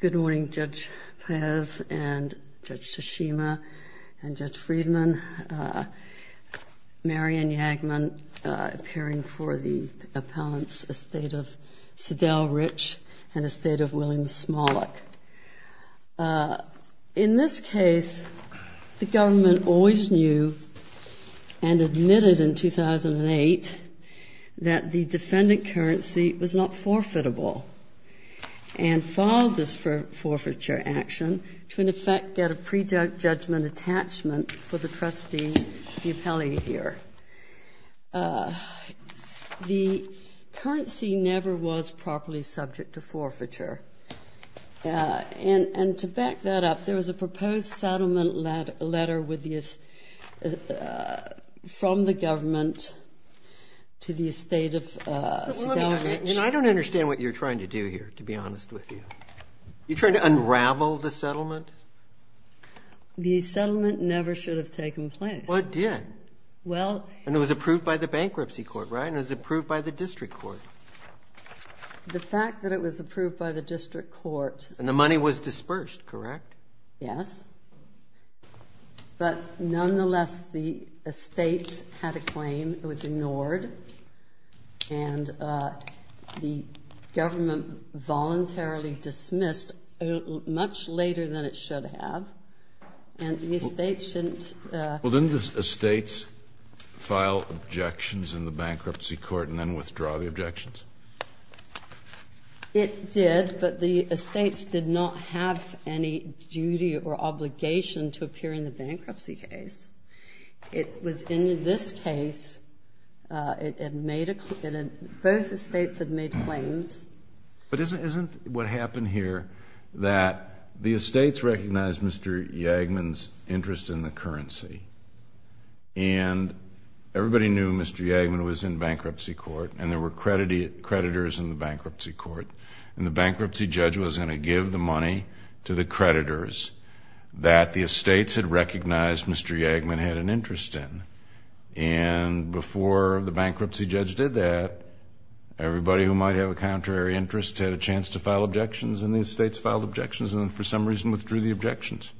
Good morning, Judge Paez and Judge Tashima and Judge Friedman, Mary Ann Yagman, appearing for the appellants, Estate of Sydelle Rich and Estate of William Smollick. In this case, the government always knew and admitted in 2008 that the defendant currency was not forfeitable and filed this forfeiture action to in effect get a prejudgment attachment for the trustee, the appellee here. The currency never was properly subject to forfeiture. And to back that up, there was a proposed settlement letter from the government to the Estate of Sydelle Rich. I don't understand what you're trying to do here, to be honest with you. You're trying to unravel the settlement? The settlement never should have taken place. Well, it did. And it was approved by the bankruptcy court, right? And it was approved by the district court. The fact that it was approved by the district court And the money was dispersed, correct? Yes. But nonetheless, the estates had a claim. It was ignored. And the government voluntarily dismissed much later than it should have. And the estates shouldn't It did, but the estates did not have any duty or obligation to appear in the bankruptcy case. It was in this case, both estates had made claims. But isn't what happened here that the estates recognized Mr. Yagman's interest in the currency And everybody knew Mr. Yagman was in bankruptcy court. And there were creditors in the bankruptcy court. And the bankruptcy judge was going to give the money to the creditors that the estates had recognized Mr. Yagman had an interest in. And before the bankruptcy judge did that, everybody who might have a contrary interest had a chance to file objections. And the estates filed objections and for some reason withdrew the objections.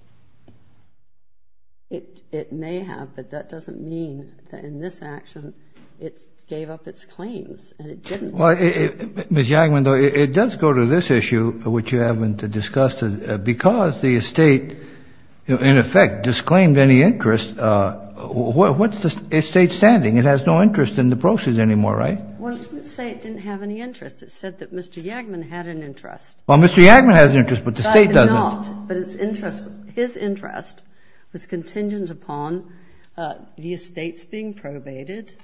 It may have, but that doesn't mean that in this action it gave up its claims and it didn't. Ms. Yagman, though, it does go to this issue, which you haven't discussed, because the estate, in effect, disclaimed any interest. What's the estate standing? It has no interest in the proceeds anymore, right? Well, it doesn't say it didn't have any interest. It said that Mr. Yagman had an interest. Well, Mr. Yagman has an interest, but the state doesn't. But his interest was contingent upon the estates being probated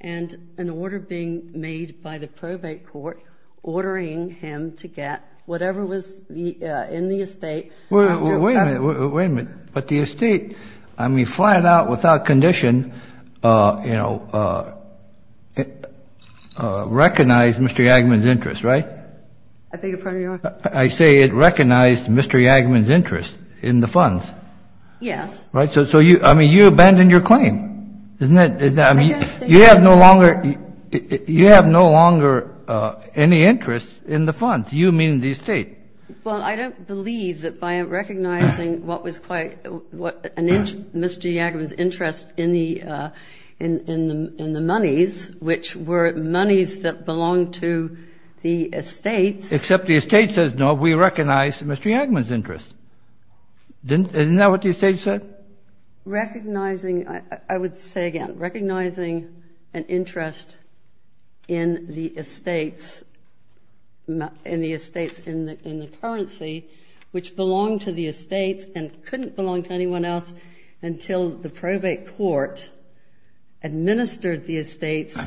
and an order being made by the probate court ordering him to get whatever was in the estate. Well, wait a minute. Wait a minute. But the estate, I mean, flat out, without condition, you know, recognized Mr. Yagman's interest, right? I beg your pardon, Your Honor? I say it recognized Mr. Yagman's interest in the funds. Yes. Right? So you, I mean, you abandoned your claim. Isn't that, I mean, you have no longer, you have no longer any interest in the funds, you meaning the estate. Well, I don't believe that by recognizing what was quite, what Mr. Yagman's interest in the, in the monies, which were monies that belonged to the estates. Except the estate says, no, we recognize Mr. Yagman's interest. Didn't, isn't that what the estate said? Recognizing, I would say again, recognizing an interest in the estates, in the estates in the currency, which belonged to the estates and couldn't belong to anyone else until the probate court administered the estates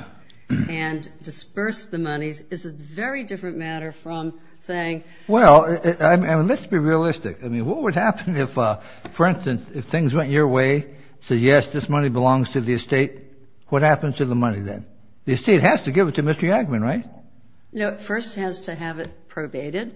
and dispersed the monies, is a very different matter from saying. Well, I mean, let's be realistic. I mean, what would happen if, for instance, if things went your way, say yes, this money belongs to the estate, what happens to the money then? The estate has to give it to Mr. Yagman, right? No, it first has to have it probated.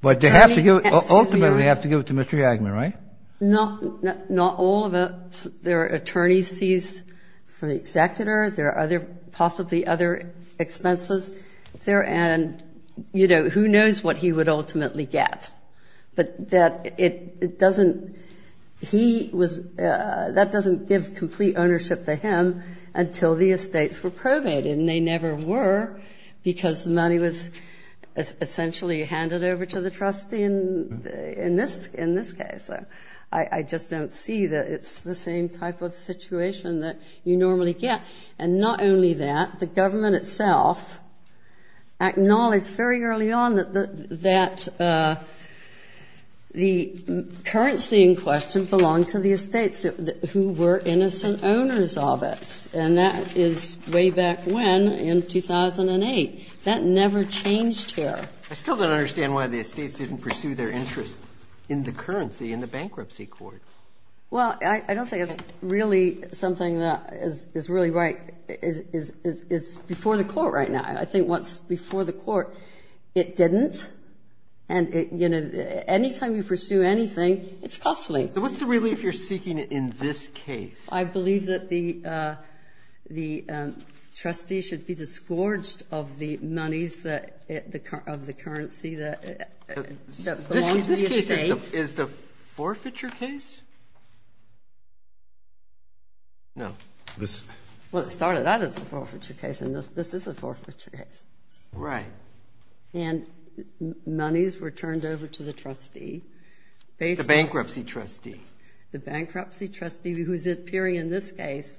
But they have to give, ultimately they have to give it to Mr. Yagman, right? Not all of it, there are attorney's fees for the executor, there are other, possibly other expenses there, and, you know, who knows what he would ultimately get. But that it doesn't, he was, that doesn't give complete ownership to him until the estates were probated, and they never were, because the money was essentially handed over to the trustee in this case. I just don't see that it's the same type of situation that you normally get. And not only that, the government itself acknowledged very early on that the currency in question belonged to the estates, who were innocent owners of it. Yes, and that is way back when, in 2008. That never changed here. I still don't understand why the estates didn't pursue their interest in the currency in the bankruptcy court. Well, I don't think it's really something that is really right, is before the court right now. I think once before the court, it didn't, and, you know, anytime you pursue anything, it's costly. So what's the relief you're seeking in this case? I believe that the trustee should be disgorged of the monies of the currency that belong to the estate. This case is the forfeiture case? No. Well, it started out as a forfeiture case, and this is a forfeiture case. Right. And monies were turned over to the trustee. The bankruptcy trustee. The bankruptcy trustee, who's appearing in this case,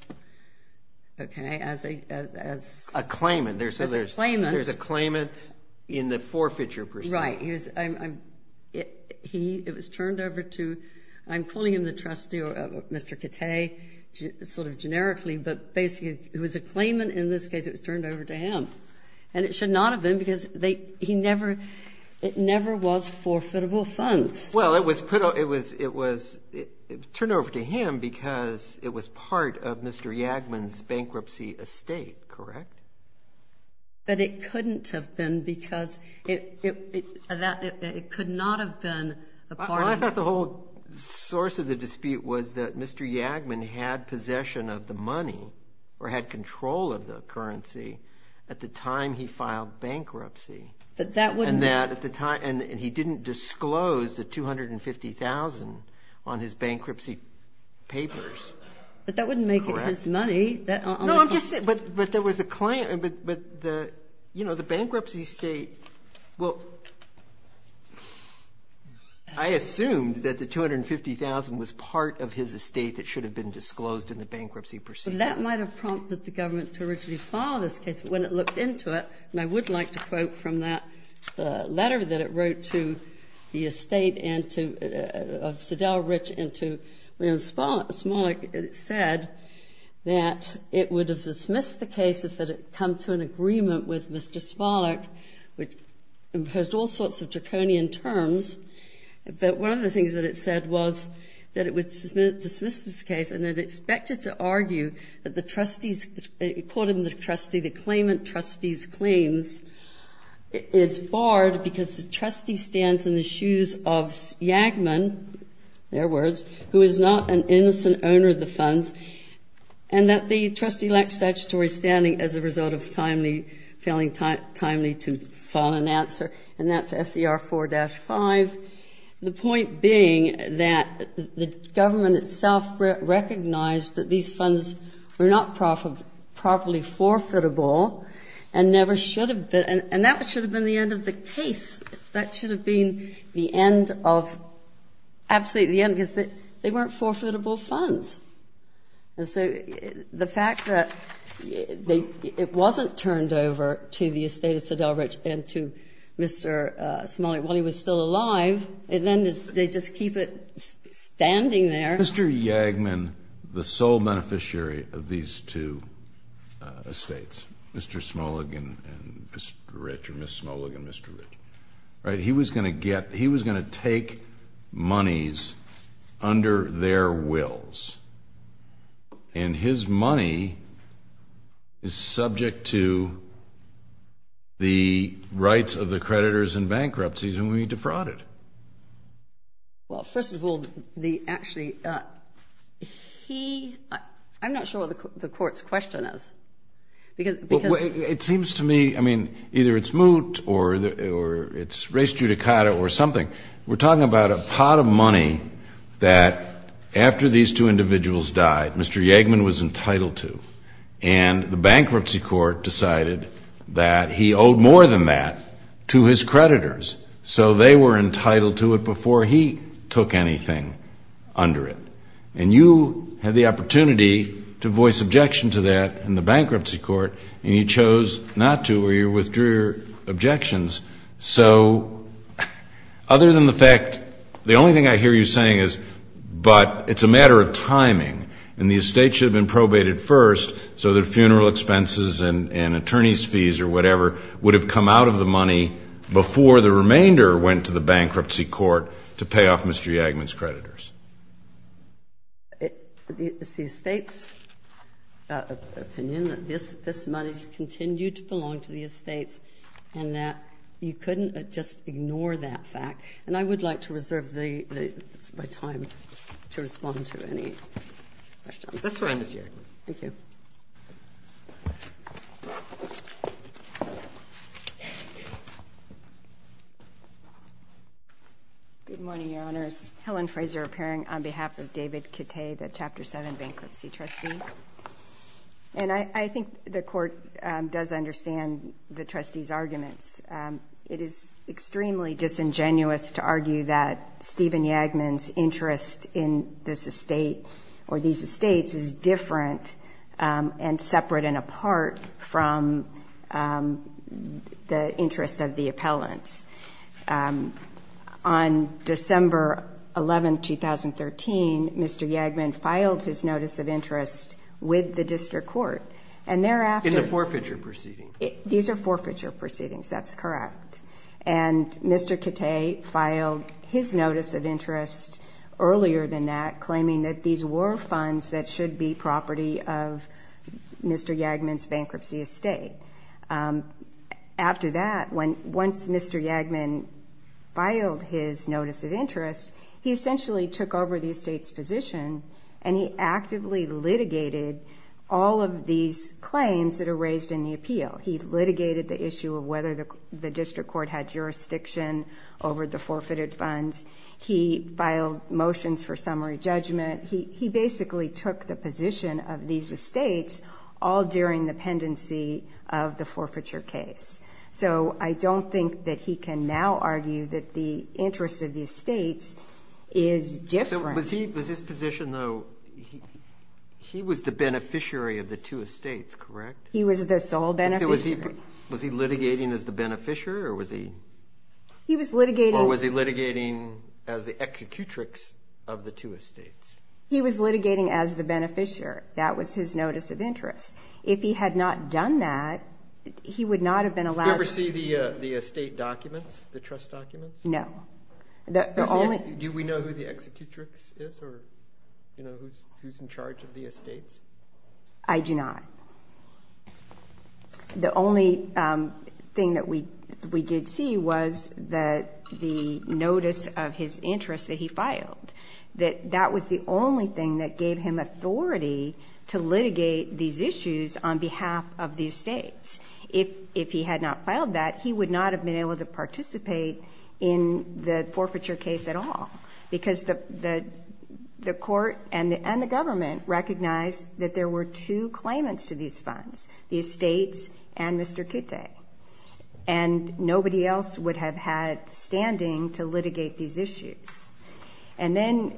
okay, as a claimant. There's a claimant in the forfeiture proceeding. Right. It was turned over to, I'm calling him the trustee, or Mr. Kittay, sort of generically, but basically it was a claimant. In this case, it was turned over to him, and it should not have been because he never, it never was forfeitable funds. Well, it was put, it was turned over to him because it was part of Mr. Yagman's bankruptcy estate, correct? But it couldn't have been because it could not have been a part of it. I thought the whole source of the dispute was that Mr. Yagman had possession of the money or had control of the currency at the time he filed bankruptcy. But that wouldn't. And he didn't disclose the $250,000 on his bankruptcy papers, correct? But that wouldn't make it his money. No, I'm just saying, but there was a claimant. But, you know, the bankruptcy estate, well, I assumed that the $250,000 was part of his estate that should have been disclosed in the bankruptcy proceeding. But that might have prompted the government to originally file this case. When it looked into it, and I would like to quote from that letter that it wrote to the estate and to, of Sidell Rich and to Raymond Smollick, it said that it would have dismissed the case if it had come to an agreement with Mr. Smollick, which imposed all sorts of draconian terms. But one of the things that it said was that it would dismiss this case, and it expected to argue that the trustee's, it called him the trustee, the claimant trustee's claims is barred because the trustee stands in the shoes of Yagman, in other words, who is not an innocent owner of the funds, and that the trustee lacks statutory standing as a result of timely, failing timely to file an answer. And that's SCR 4-5. The point being that the government itself recognized that these funds were not properly forfeitable and never should have been, and that should have been the end of the case. That should have been the end of, absolutely the end, because they weren't forfeitable funds. And so the fact that it wasn't turned over to the estate of Sidell Rich and to Mr. Smollick while he was still alive, then they just keep it standing there. Mr. Yagman, the sole beneficiary of these two estates, Mr. Smollick and Mr. Rich, or Ms. Smollick and Mr. Rich, he was going to get, he was going to take monies under their wills. And his money is subject to the rights of the creditors in bankruptcies, and we defrauded. Well, first of all, the actually, he, I'm not sure what the court's question is. It seems to me, I mean, either it's moot or it's race judicata or something. We're talking about a pot of money that after these two individuals died, Mr. Yagman was entitled to, and the bankruptcy court decided that he owed more than that to his creditors. So they were entitled to it before he took anything under it. And you had the opportunity to voice objection to that in the bankruptcy court, and you chose not to or you withdrew your objections. So other than the fact, the only thing I hear you saying is, but it's a matter of timing, and the estate should have been probated first so that funeral expenses and attorney's fees or whatever would have come out of the money before the remainder went to the bankruptcy court to pay off Mr. Yagman's creditors. It's the estate's opinion that this money continued to belong to the estate and that you couldn't just ignore that fact. And I would like to reserve my time to respond to any questions. That's fine, Ms. Yagman. Thank you. Good morning, Your Honors. Helen Fraser appearing on behalf of David Kittay, the Chapter 7 bankruptcy trustee. And I think the court does understand the trustee's arguments. It is extremely disingenuous to argue that Stephen Yagman's interest in this estate or these estates is different and separate and apart from the interest of the appellants. On December 11, 2013, Mr. Yagman filed his notice of interest with the district court. In the forfeiture proceeding? These are forfeiture proceedings. That's correct. And Mr. Kittay filed his notice of interest earlier than that claiming that these were funds that should be property of Mr. Yagman's bankruptcy estate. After that, once Mr. Yagman filed his notice of interest, he essentially took over the estate's position and he actively litigated all of these claims that are raised in the appeal. He litigated the issue of whether the district court had jurisdiction over the forfeited funds. He filed motions for summary judgment. He basically took the position of these estates all during the pendency of the forfeiture case. So I don't think that he can now argue that the interest of the estates is different. So was his position, though, he was the beneficiary of the two estates, correct? He was the sole beneficiary. Was he litigating as the beneficiary or was he? He was litigating. Or was he litigating as the executrix of the two estates? He was litigating as the beneficiary. That was his notice of interest. If he had not done that, he would not have been allowed. Did you ever see the estate documents, the trust documents? No. Do we know who the executrix is or who's in charge of the estates? I do not. The only thing that we did see was the notice of his interest that he filed, that that was the only thing that gave him authority to litigate these issues on behalf of the estates. If he had not filed that, he would not have been able to participate in the forfeiture case at all because the court and the government recognized that there were two claimants to these funds, the estates and Mr. Kitte. And nobody else would have had standing to litigate these issues. And then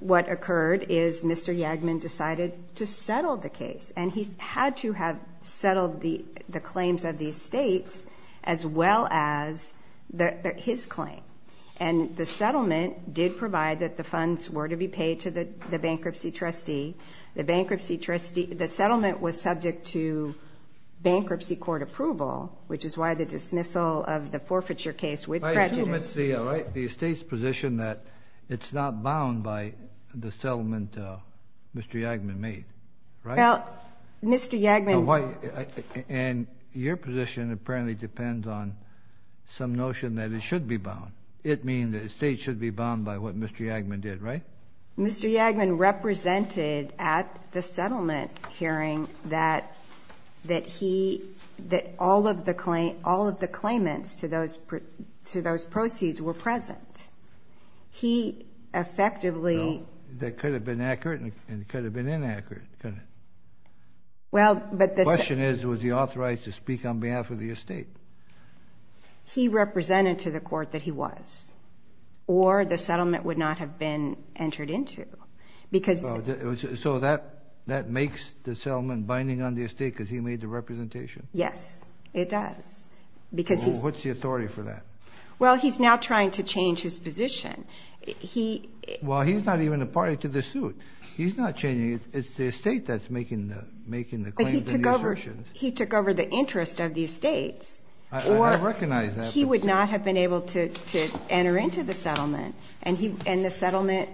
what occurred is Mr. Yagman decided to settle the case, and he had to have settled the claims of the estates as well as his claim. And the settlement did provide that the funds were to be paid to the bankruptcy trustee. The bankruptcy trustee, the settlement was subject to bankruptcy court approval, which is why the dismissal of the forfeiture case with prejudice. I assume it's the estate's position that it's not bound by the settlement Mr. Yagman made, right? Well, Mr. Yagman... And your position apparently depends on some notion that it should be bound. It means the estate should be bound by what Mr. Yagman did, right? Mr. Yagman represented at the settlement hearing that he... that all of the claimants to those proceeds were present. He effectively... That could have been accurate and it could have been inaccurate. Well, but the... The question is, was he authorized to speak on behalf of the estate? He represented to the court that he was, or the settlement would not have been entered into because... So that makes the settlement binding on the estate because he made the representation? Yes, it does. What's the authority for that? Well, he's now trying to change his position. Well, he's not even a party to the suit. He's not changing it. It's the estate that's making the claims and the assertions. But he took over the interest of the estates. I recognize that. Or he would not have been able to enter into the settlement, and the settlement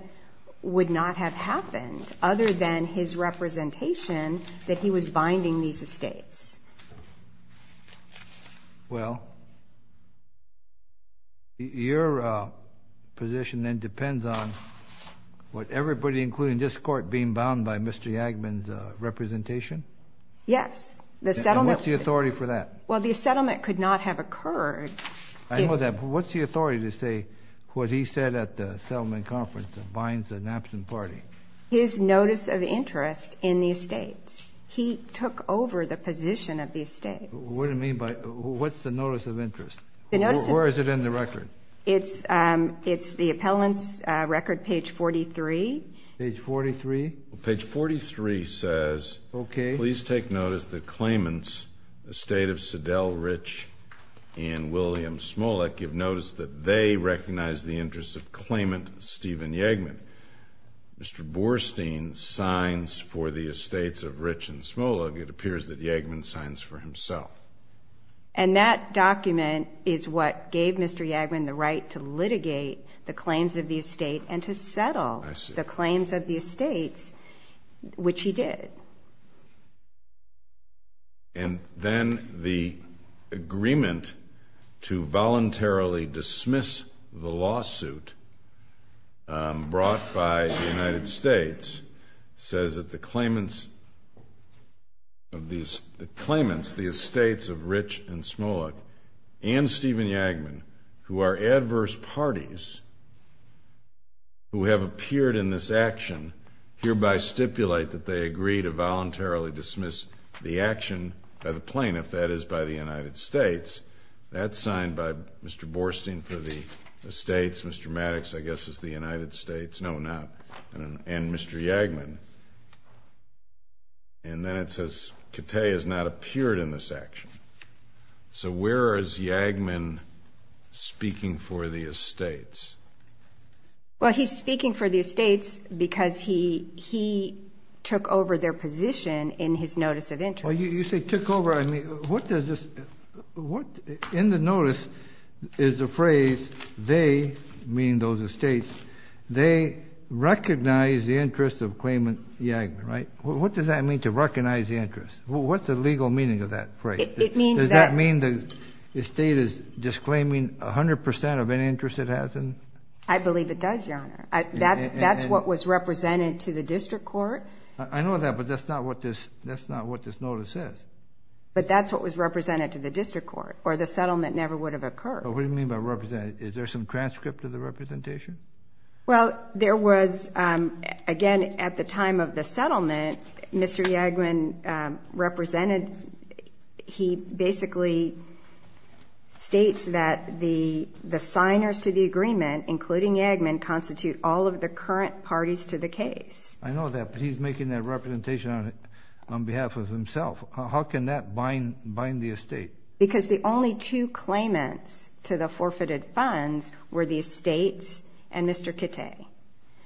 would not have happened other than his representation that he was binding these estates. Well, your position then depends on what everybody, including this court, being bound by Mr. Yagman's representation? Yes, the settlement... And what's the authority for that? Well, the settlement could not have occurred if... I know that, but what's the authority to say what he said at the settlement conference that binds the Knapson party? His notice of interest in the estates. He took over the position of the estates. What do you mean by... What's the notice of interest? The notice of... Where is it in the record? It's the appellant's record, page 43. Page 43? Page 43 says... Okay. ...please take notice that claimants, Estate of Siddell Rich and William Smolik, give notice that they recognize the interest of claimant Stephen Yagman. Mr. Borstein signs for the estates of Rich and Smolik. It appears that Yagman signs for himself. And that document is what gave Mr. Yagman the right to litigate the claims of the estate and to settle the claims of the estates, which he did. And then the agreement to voluntarily dismiss the lawsuit brought by the United States says that the claimants of these estates of Rich and Smolik and Stephen Yagman, who are adverse parties who have appeared in this action, hereby stipulate that they agree to voluntarily dismiss the action by the plaintiff, that is, by the United States. That's signed by Mr. Borstein for the estates. Mr. Maddox, I guess, is the United States. No, not. And Mr. Yagman. And then it says, Kittay has not appeared in this action. So where is Yagman speaking for the estates? Well, he's speaking for the estates because he took over their position in his notice of interest. Well, you say took over. I mean, what does this ñ in the notice is a phrase, they, meaning those estates, they recognize the interest of claimant Yagman, right? What does that mean, to recognize the interest? What's the legal meaning of that phrase? Does that mean the estate is disclaiming 100 percent of any interest it has in? I believe it does, Your Honor. That's what was represented to the district court. I know that, but that's not what this notice says. But that's what was represented to the district court, or the settlement never would have occurred. What do you mean by represented? Is there some transcript of the representation? Well, there was, again, at the time of the settlement, Mr. Yagman represented, he basically states that the signers to the agreement, including Yagman, constitute all of the current parties to the case. I know that, but he's making that representation on behalf of himself. How can that bind the estate? Because the only two claimants to the forfeited funds were the estates and Mr. Kittay.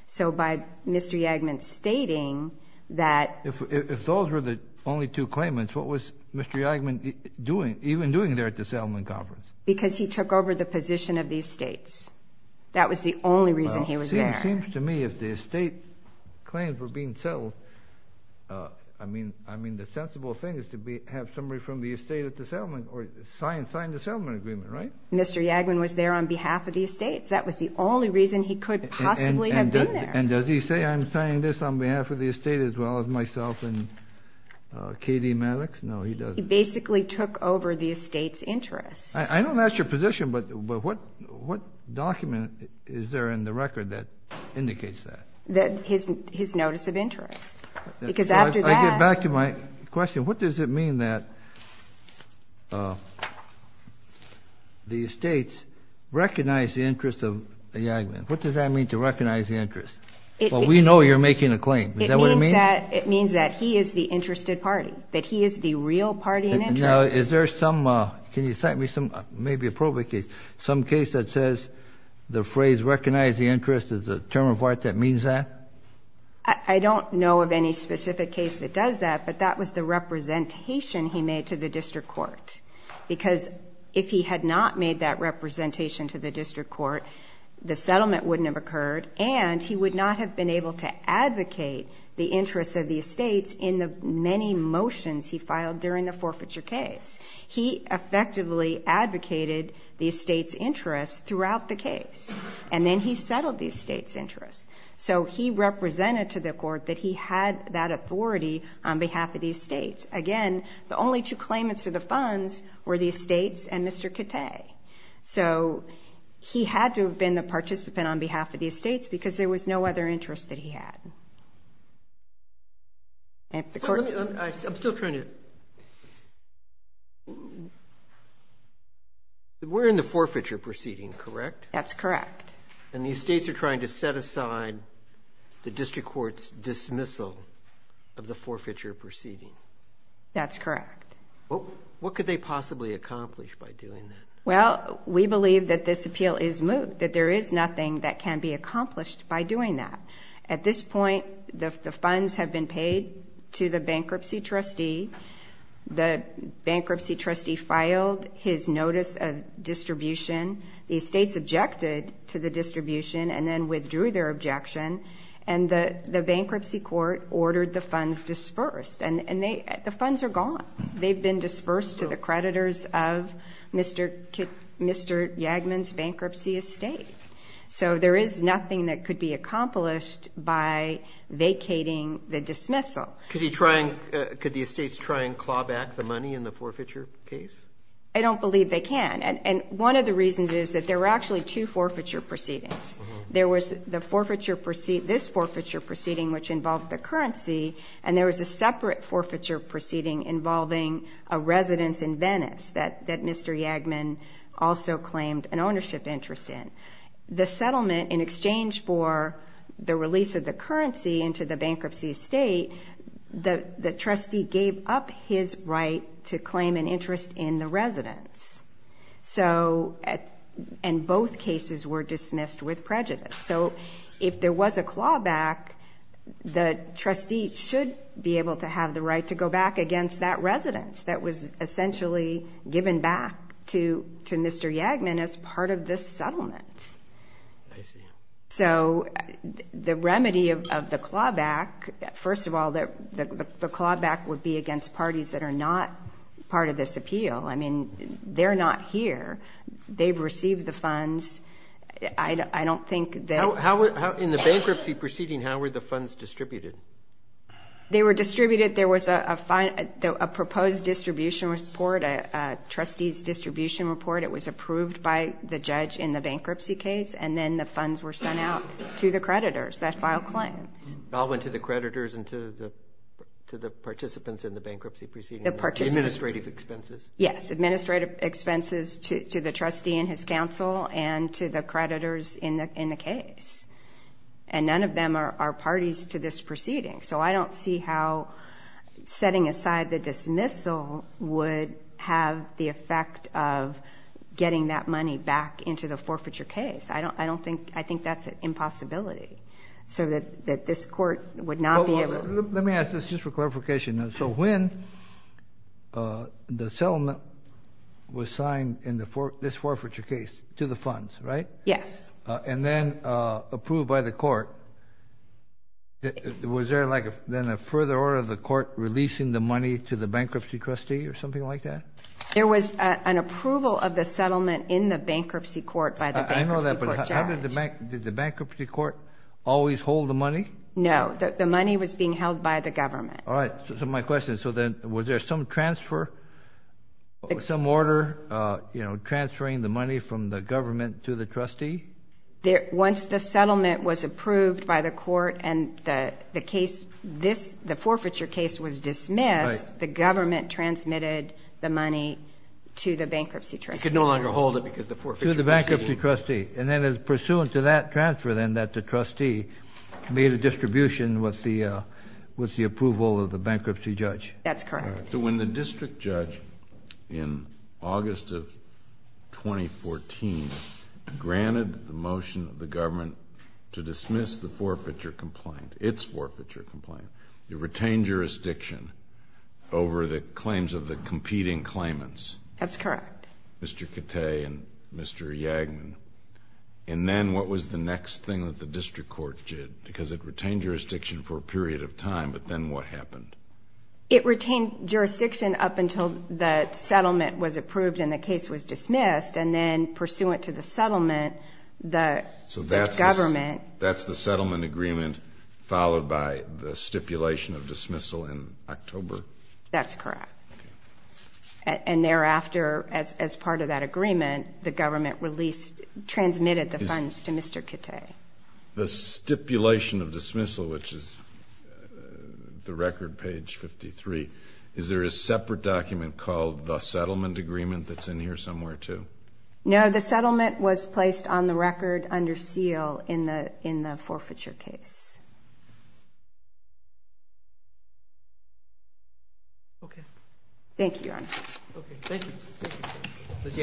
So by Mr. Yagman stating that – If those were the only two claimants, what was Mr. Yagman even doing there at the settlement conference? Because he took over the position of the estates. That was the only reason he was there. Well, it seems to me if the estate claims were being settled, I mean, the sensible thing is to have somebody from the estate at the settlement, or sign the settlement agreement, right? Mr. Yagman was there on behalf of the estates. That was the only reason he could possibly have been there. And does he say, I'm signing this on behalf of the estate as well as myself and K.D. Maddox? No, he doesn't. He basically took over the estate's interest. I know that's your position, but what document is there in the record that indicates that? His notice of interest. I get back to my question. What does it mean that the estates recognize the interest of Yagman? What does that mean to recognize the interest? Well, we know you're making a claim. Is that what it means? It means that he is the interested party, that he is the real party in interest. Now, is there some – can you cite me some – maybe a probate case, some case that says the phrase recognize the interest is a term of art that means that? I don't know of any specific case that does that, but that was the representation he made to the district court. Because if he had not made that representation to the district court, the settlement wouldn't have occurred, and he would not have been able to advocate the interests of the estates in the many motions he filed during the forfeiture case. He effectively advocated the estates' interest throughout the case, and then he settled the estates' interest. So he represented to the court that he had that authority on behalf of the estates. Again, the only two claimants to the funds were the estates and Mr. Kittay. So he had to have been the participant on behalf of the estates because there was no other interest that he had. I'm still trying to – we're in the forfeiture proceeding, correct? That's correct. And the estates are trying to set aside the district court's dismissal of the forfeiture proceeding. That's correct. What could they possibly accomplish by doing that? Well, we believe that this appeal is moved, that there is nothing that can be accomplished by doing that. At this point, the funds have been paid to the bankruptcy trustee. The bankruptcy trustee filed his notice of distribution. The estates objected to the distribution and then withdrew their objection, and the bankruptcy court ordered the funds dispersed. And the funds are gone. They've been dispersed to the creditors of Mr. Yagman's bankruptcy estate. So there is nothing that could be accomplished by vacating the dismissal. Could the estates try and claw back the money in the forfeiture case? I don't believe they can. And one of the reasons is that there were actually two forfeiture proceedings. There was this forfeiture proceeding, which involved the currency, and there was a separate forfeiture proceeding involving a residence in Venice that Mr. Yagman also claimed an ownership interest in. The settlement, in exchange for the release of the currency into the bankruptcy estate, the trustee gave up his right to claim an interest in the residence. And both cases were dismissed with prejudice. So if there was a clawback, the trustee should be able to have the right to go back against that residence that was essentially given back to Mr. Yagman as part of this settlement. I see. So the remedy of the clawback, first of all, the clawback would be against parties that are not part of this appeal. I mean, they're not here. They've received the funds. I don't think that— In the bankruptcy proceeding, how were the funds distributed? They were distributed. There was a proposed distribution report, a trustee's distribution report. It was approved by the judge in the bankruptcy case, and then the funds were sent out to the creditors that filed claims. It all went to the creditors and to the participants in the bankruptcy proceeding. The participants. Administrative expenses. Yes, administrative expenses to the trustee and his counsel and to the creditors in the case. And none of them are parties to this proceeding. So I don't see how setting aside the dismissal would have the effect of getting that money back into the forfeiture case. I think that's an impossibility so that this court would not be able to— Let me ask this just for clarification. So when the settlement was signed in this forfeiture case to the funds, right? Yes. And then approved by the court, was there then a further order of the court releasing the money to the bankruptcy trustee or something like that? There was an approval of the settlement in the bankruptcy court by the bankruptcy court judge. I know that, but did the bankruptcy court always hold the money? No, the money was being held by the government. All right, so my question is, so then was there some transfer, some order transferring the money from the government to the trustee? Once the settlement was approved by the court and the case, the forfeiture case was dismissed, the government transmitted the money to the bankruptcy trustee. It could no longer hold it because the forfeiture— To the bankruptcy trustee. And then pursuant to that transfer then that the trustee made a distribution with the approval of the bankruptcy judge. That's correct. So when the district judge in August of 2014 granted the motion of the government to dismiss the forfeiture complaint, its forfeiture complaint, it retained jurisdiction over the claims of the competing claimants. That's correct. Mr. Cattay and Mr. Yagnon. And then what was the next thing that the district court did? Because it retained jurisdiction for a period of time, but then what happened? It retained jurisdiction up until the settlement was approved and the case was dismissed, and then pursuant to the settlement the government— So that's the settlement agreement followed by the stipulation of dismissal in October? That's correct. And thereafter, as part of that agreement, the government transmitted the funds to Mr. Cattay. The stipulation of dismissal, which is the record, page 53, is there a separate document called the settlement agreement that's in here somewhere too? No, the settlement was placed on the record under seal in the forfeiture case. Okay. Thank you, Your Honor. Okay, thank you. Thank you. Ms.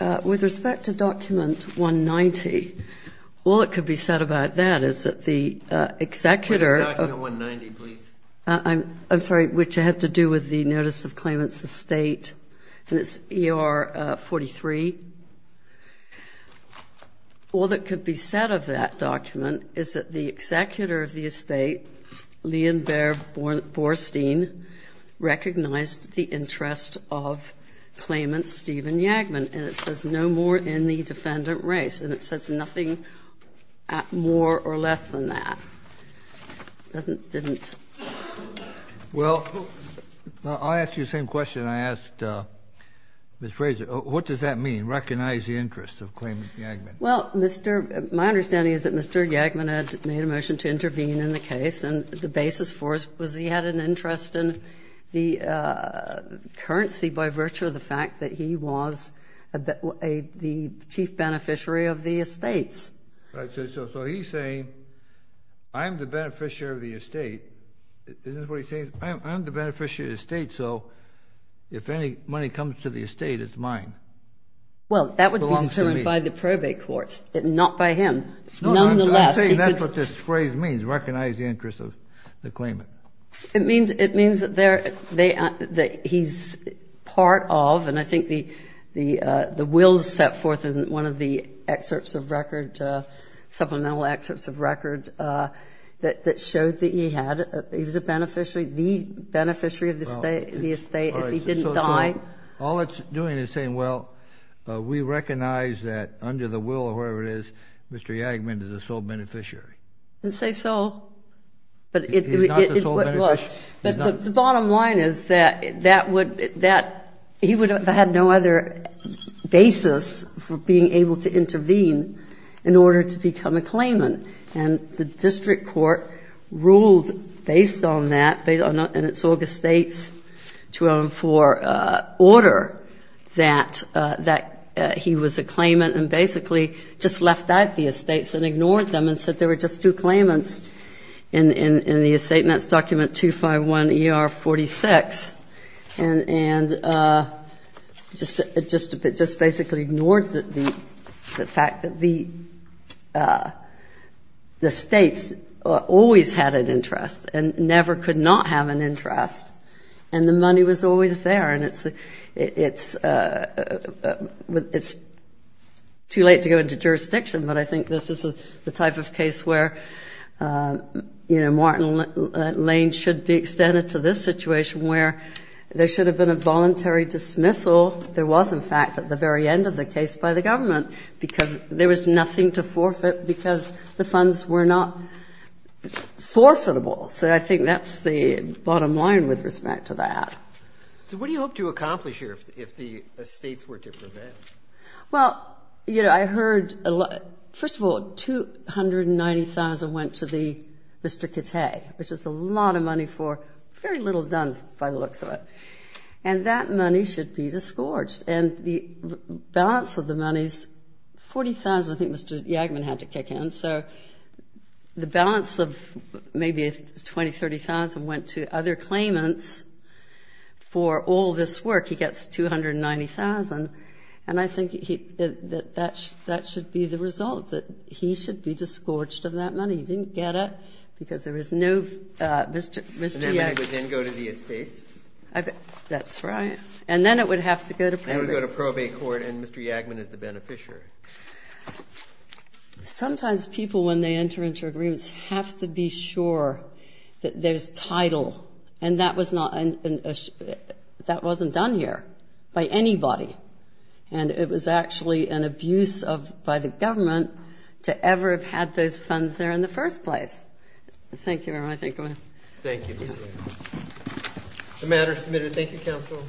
Yacker. With respect to document 190, all that could be said about that is that the executor— What is document 190, please? I'm sorry, which had to do with the notice of claimant's estate, and it's ER 43. All that could be said of that document is that the executor of the estate, Leon Bear Borstein, recognized the interest of claimant Stephen Yagman, and it says no more in the defendant race, and it says nothing more or less than that. It doesn't, didn't. Well, I'll ask you the same question I asked Ms. Fraser. What does that mean, recognize the interest of claimant Yagman? Well, my understanding is that Mr. Yagman had made a motion to intervene in the case, and the basis for it was he had an interest in the currency by virtue of the fact that he was the chief beneficiary of the estates. So he's saying I'm the beneficiary of the estate. Isn't that what he's saying? I'm the beneficiary of the estate, so if any money comes to the estate, it's mine. Well, that would be determined by the probate courts, not by him. Nonetheless, he could. No, I'm saying that's what this phrase means, recognize the interest of the claimant. It means that he's part of, and I think the wills set forth in one of the excerpts of record, supplemental excerpts of records that showed that he had, he was a beneficiary, the beneficiary of the estate if he didn't die. Well, all it's doing is saying, well, we recognize that under the will of whoever it is Mr. Yagman is a sole beneficiary. It doesn't say sole. He's not the sole beneficiary. But the bottom line is that he would have had no other basis for being able to intervene in order to become a claimant, and the district court ruled based on that, and it's August States 2004, order that he was a claimant and basically just left out the estates and ignored them and said there were just two claimants in the estate. And that's document 251ER46. And just basically ignored the fact that the estates always had an interest and never could not have an interest, and the money was always there. And it's too late to go into jurisdiction, but I think this is the type of case where, you know, Martin Lane should be extended to this situation where there should have been a voluntary dismissal. There was, in fact, at the very end of the case by the government because there was nothing to forfeit because the funds were not forfeitable. So I think that's the bottom line with respect to that. So what do you hope to accomplish here if the estates were to prevent? Well, you know, I heard a lot. First of all, $290,000 went to Mr. Kittay, which is a lot of money for very little done by the looks of it, and that money should be disgorged. And the balance of the money is $40,000. I think Mr. Yagman had to kick in. So the balance of maybe $20,000, $30,000 went to other claimants for all this work. He gets $290,000, and I think that that should be the result, that he should be disgorged of that money. He didn't get it because there was no Mr. Yagman. And that money would then go to the estates? That's right. And then it would have to go to probate. It would go to probate court, and Mr. Yagman is the beneficiary. Sometimes people, when they enter into agreements, have to be sure that there's title. And that wasn't done here by anybody. And it was actually an abuse by the government to ever have had those funds there in the first place. Thank you, everyone. Thank you. The matter is submitted. Thank you, counsel.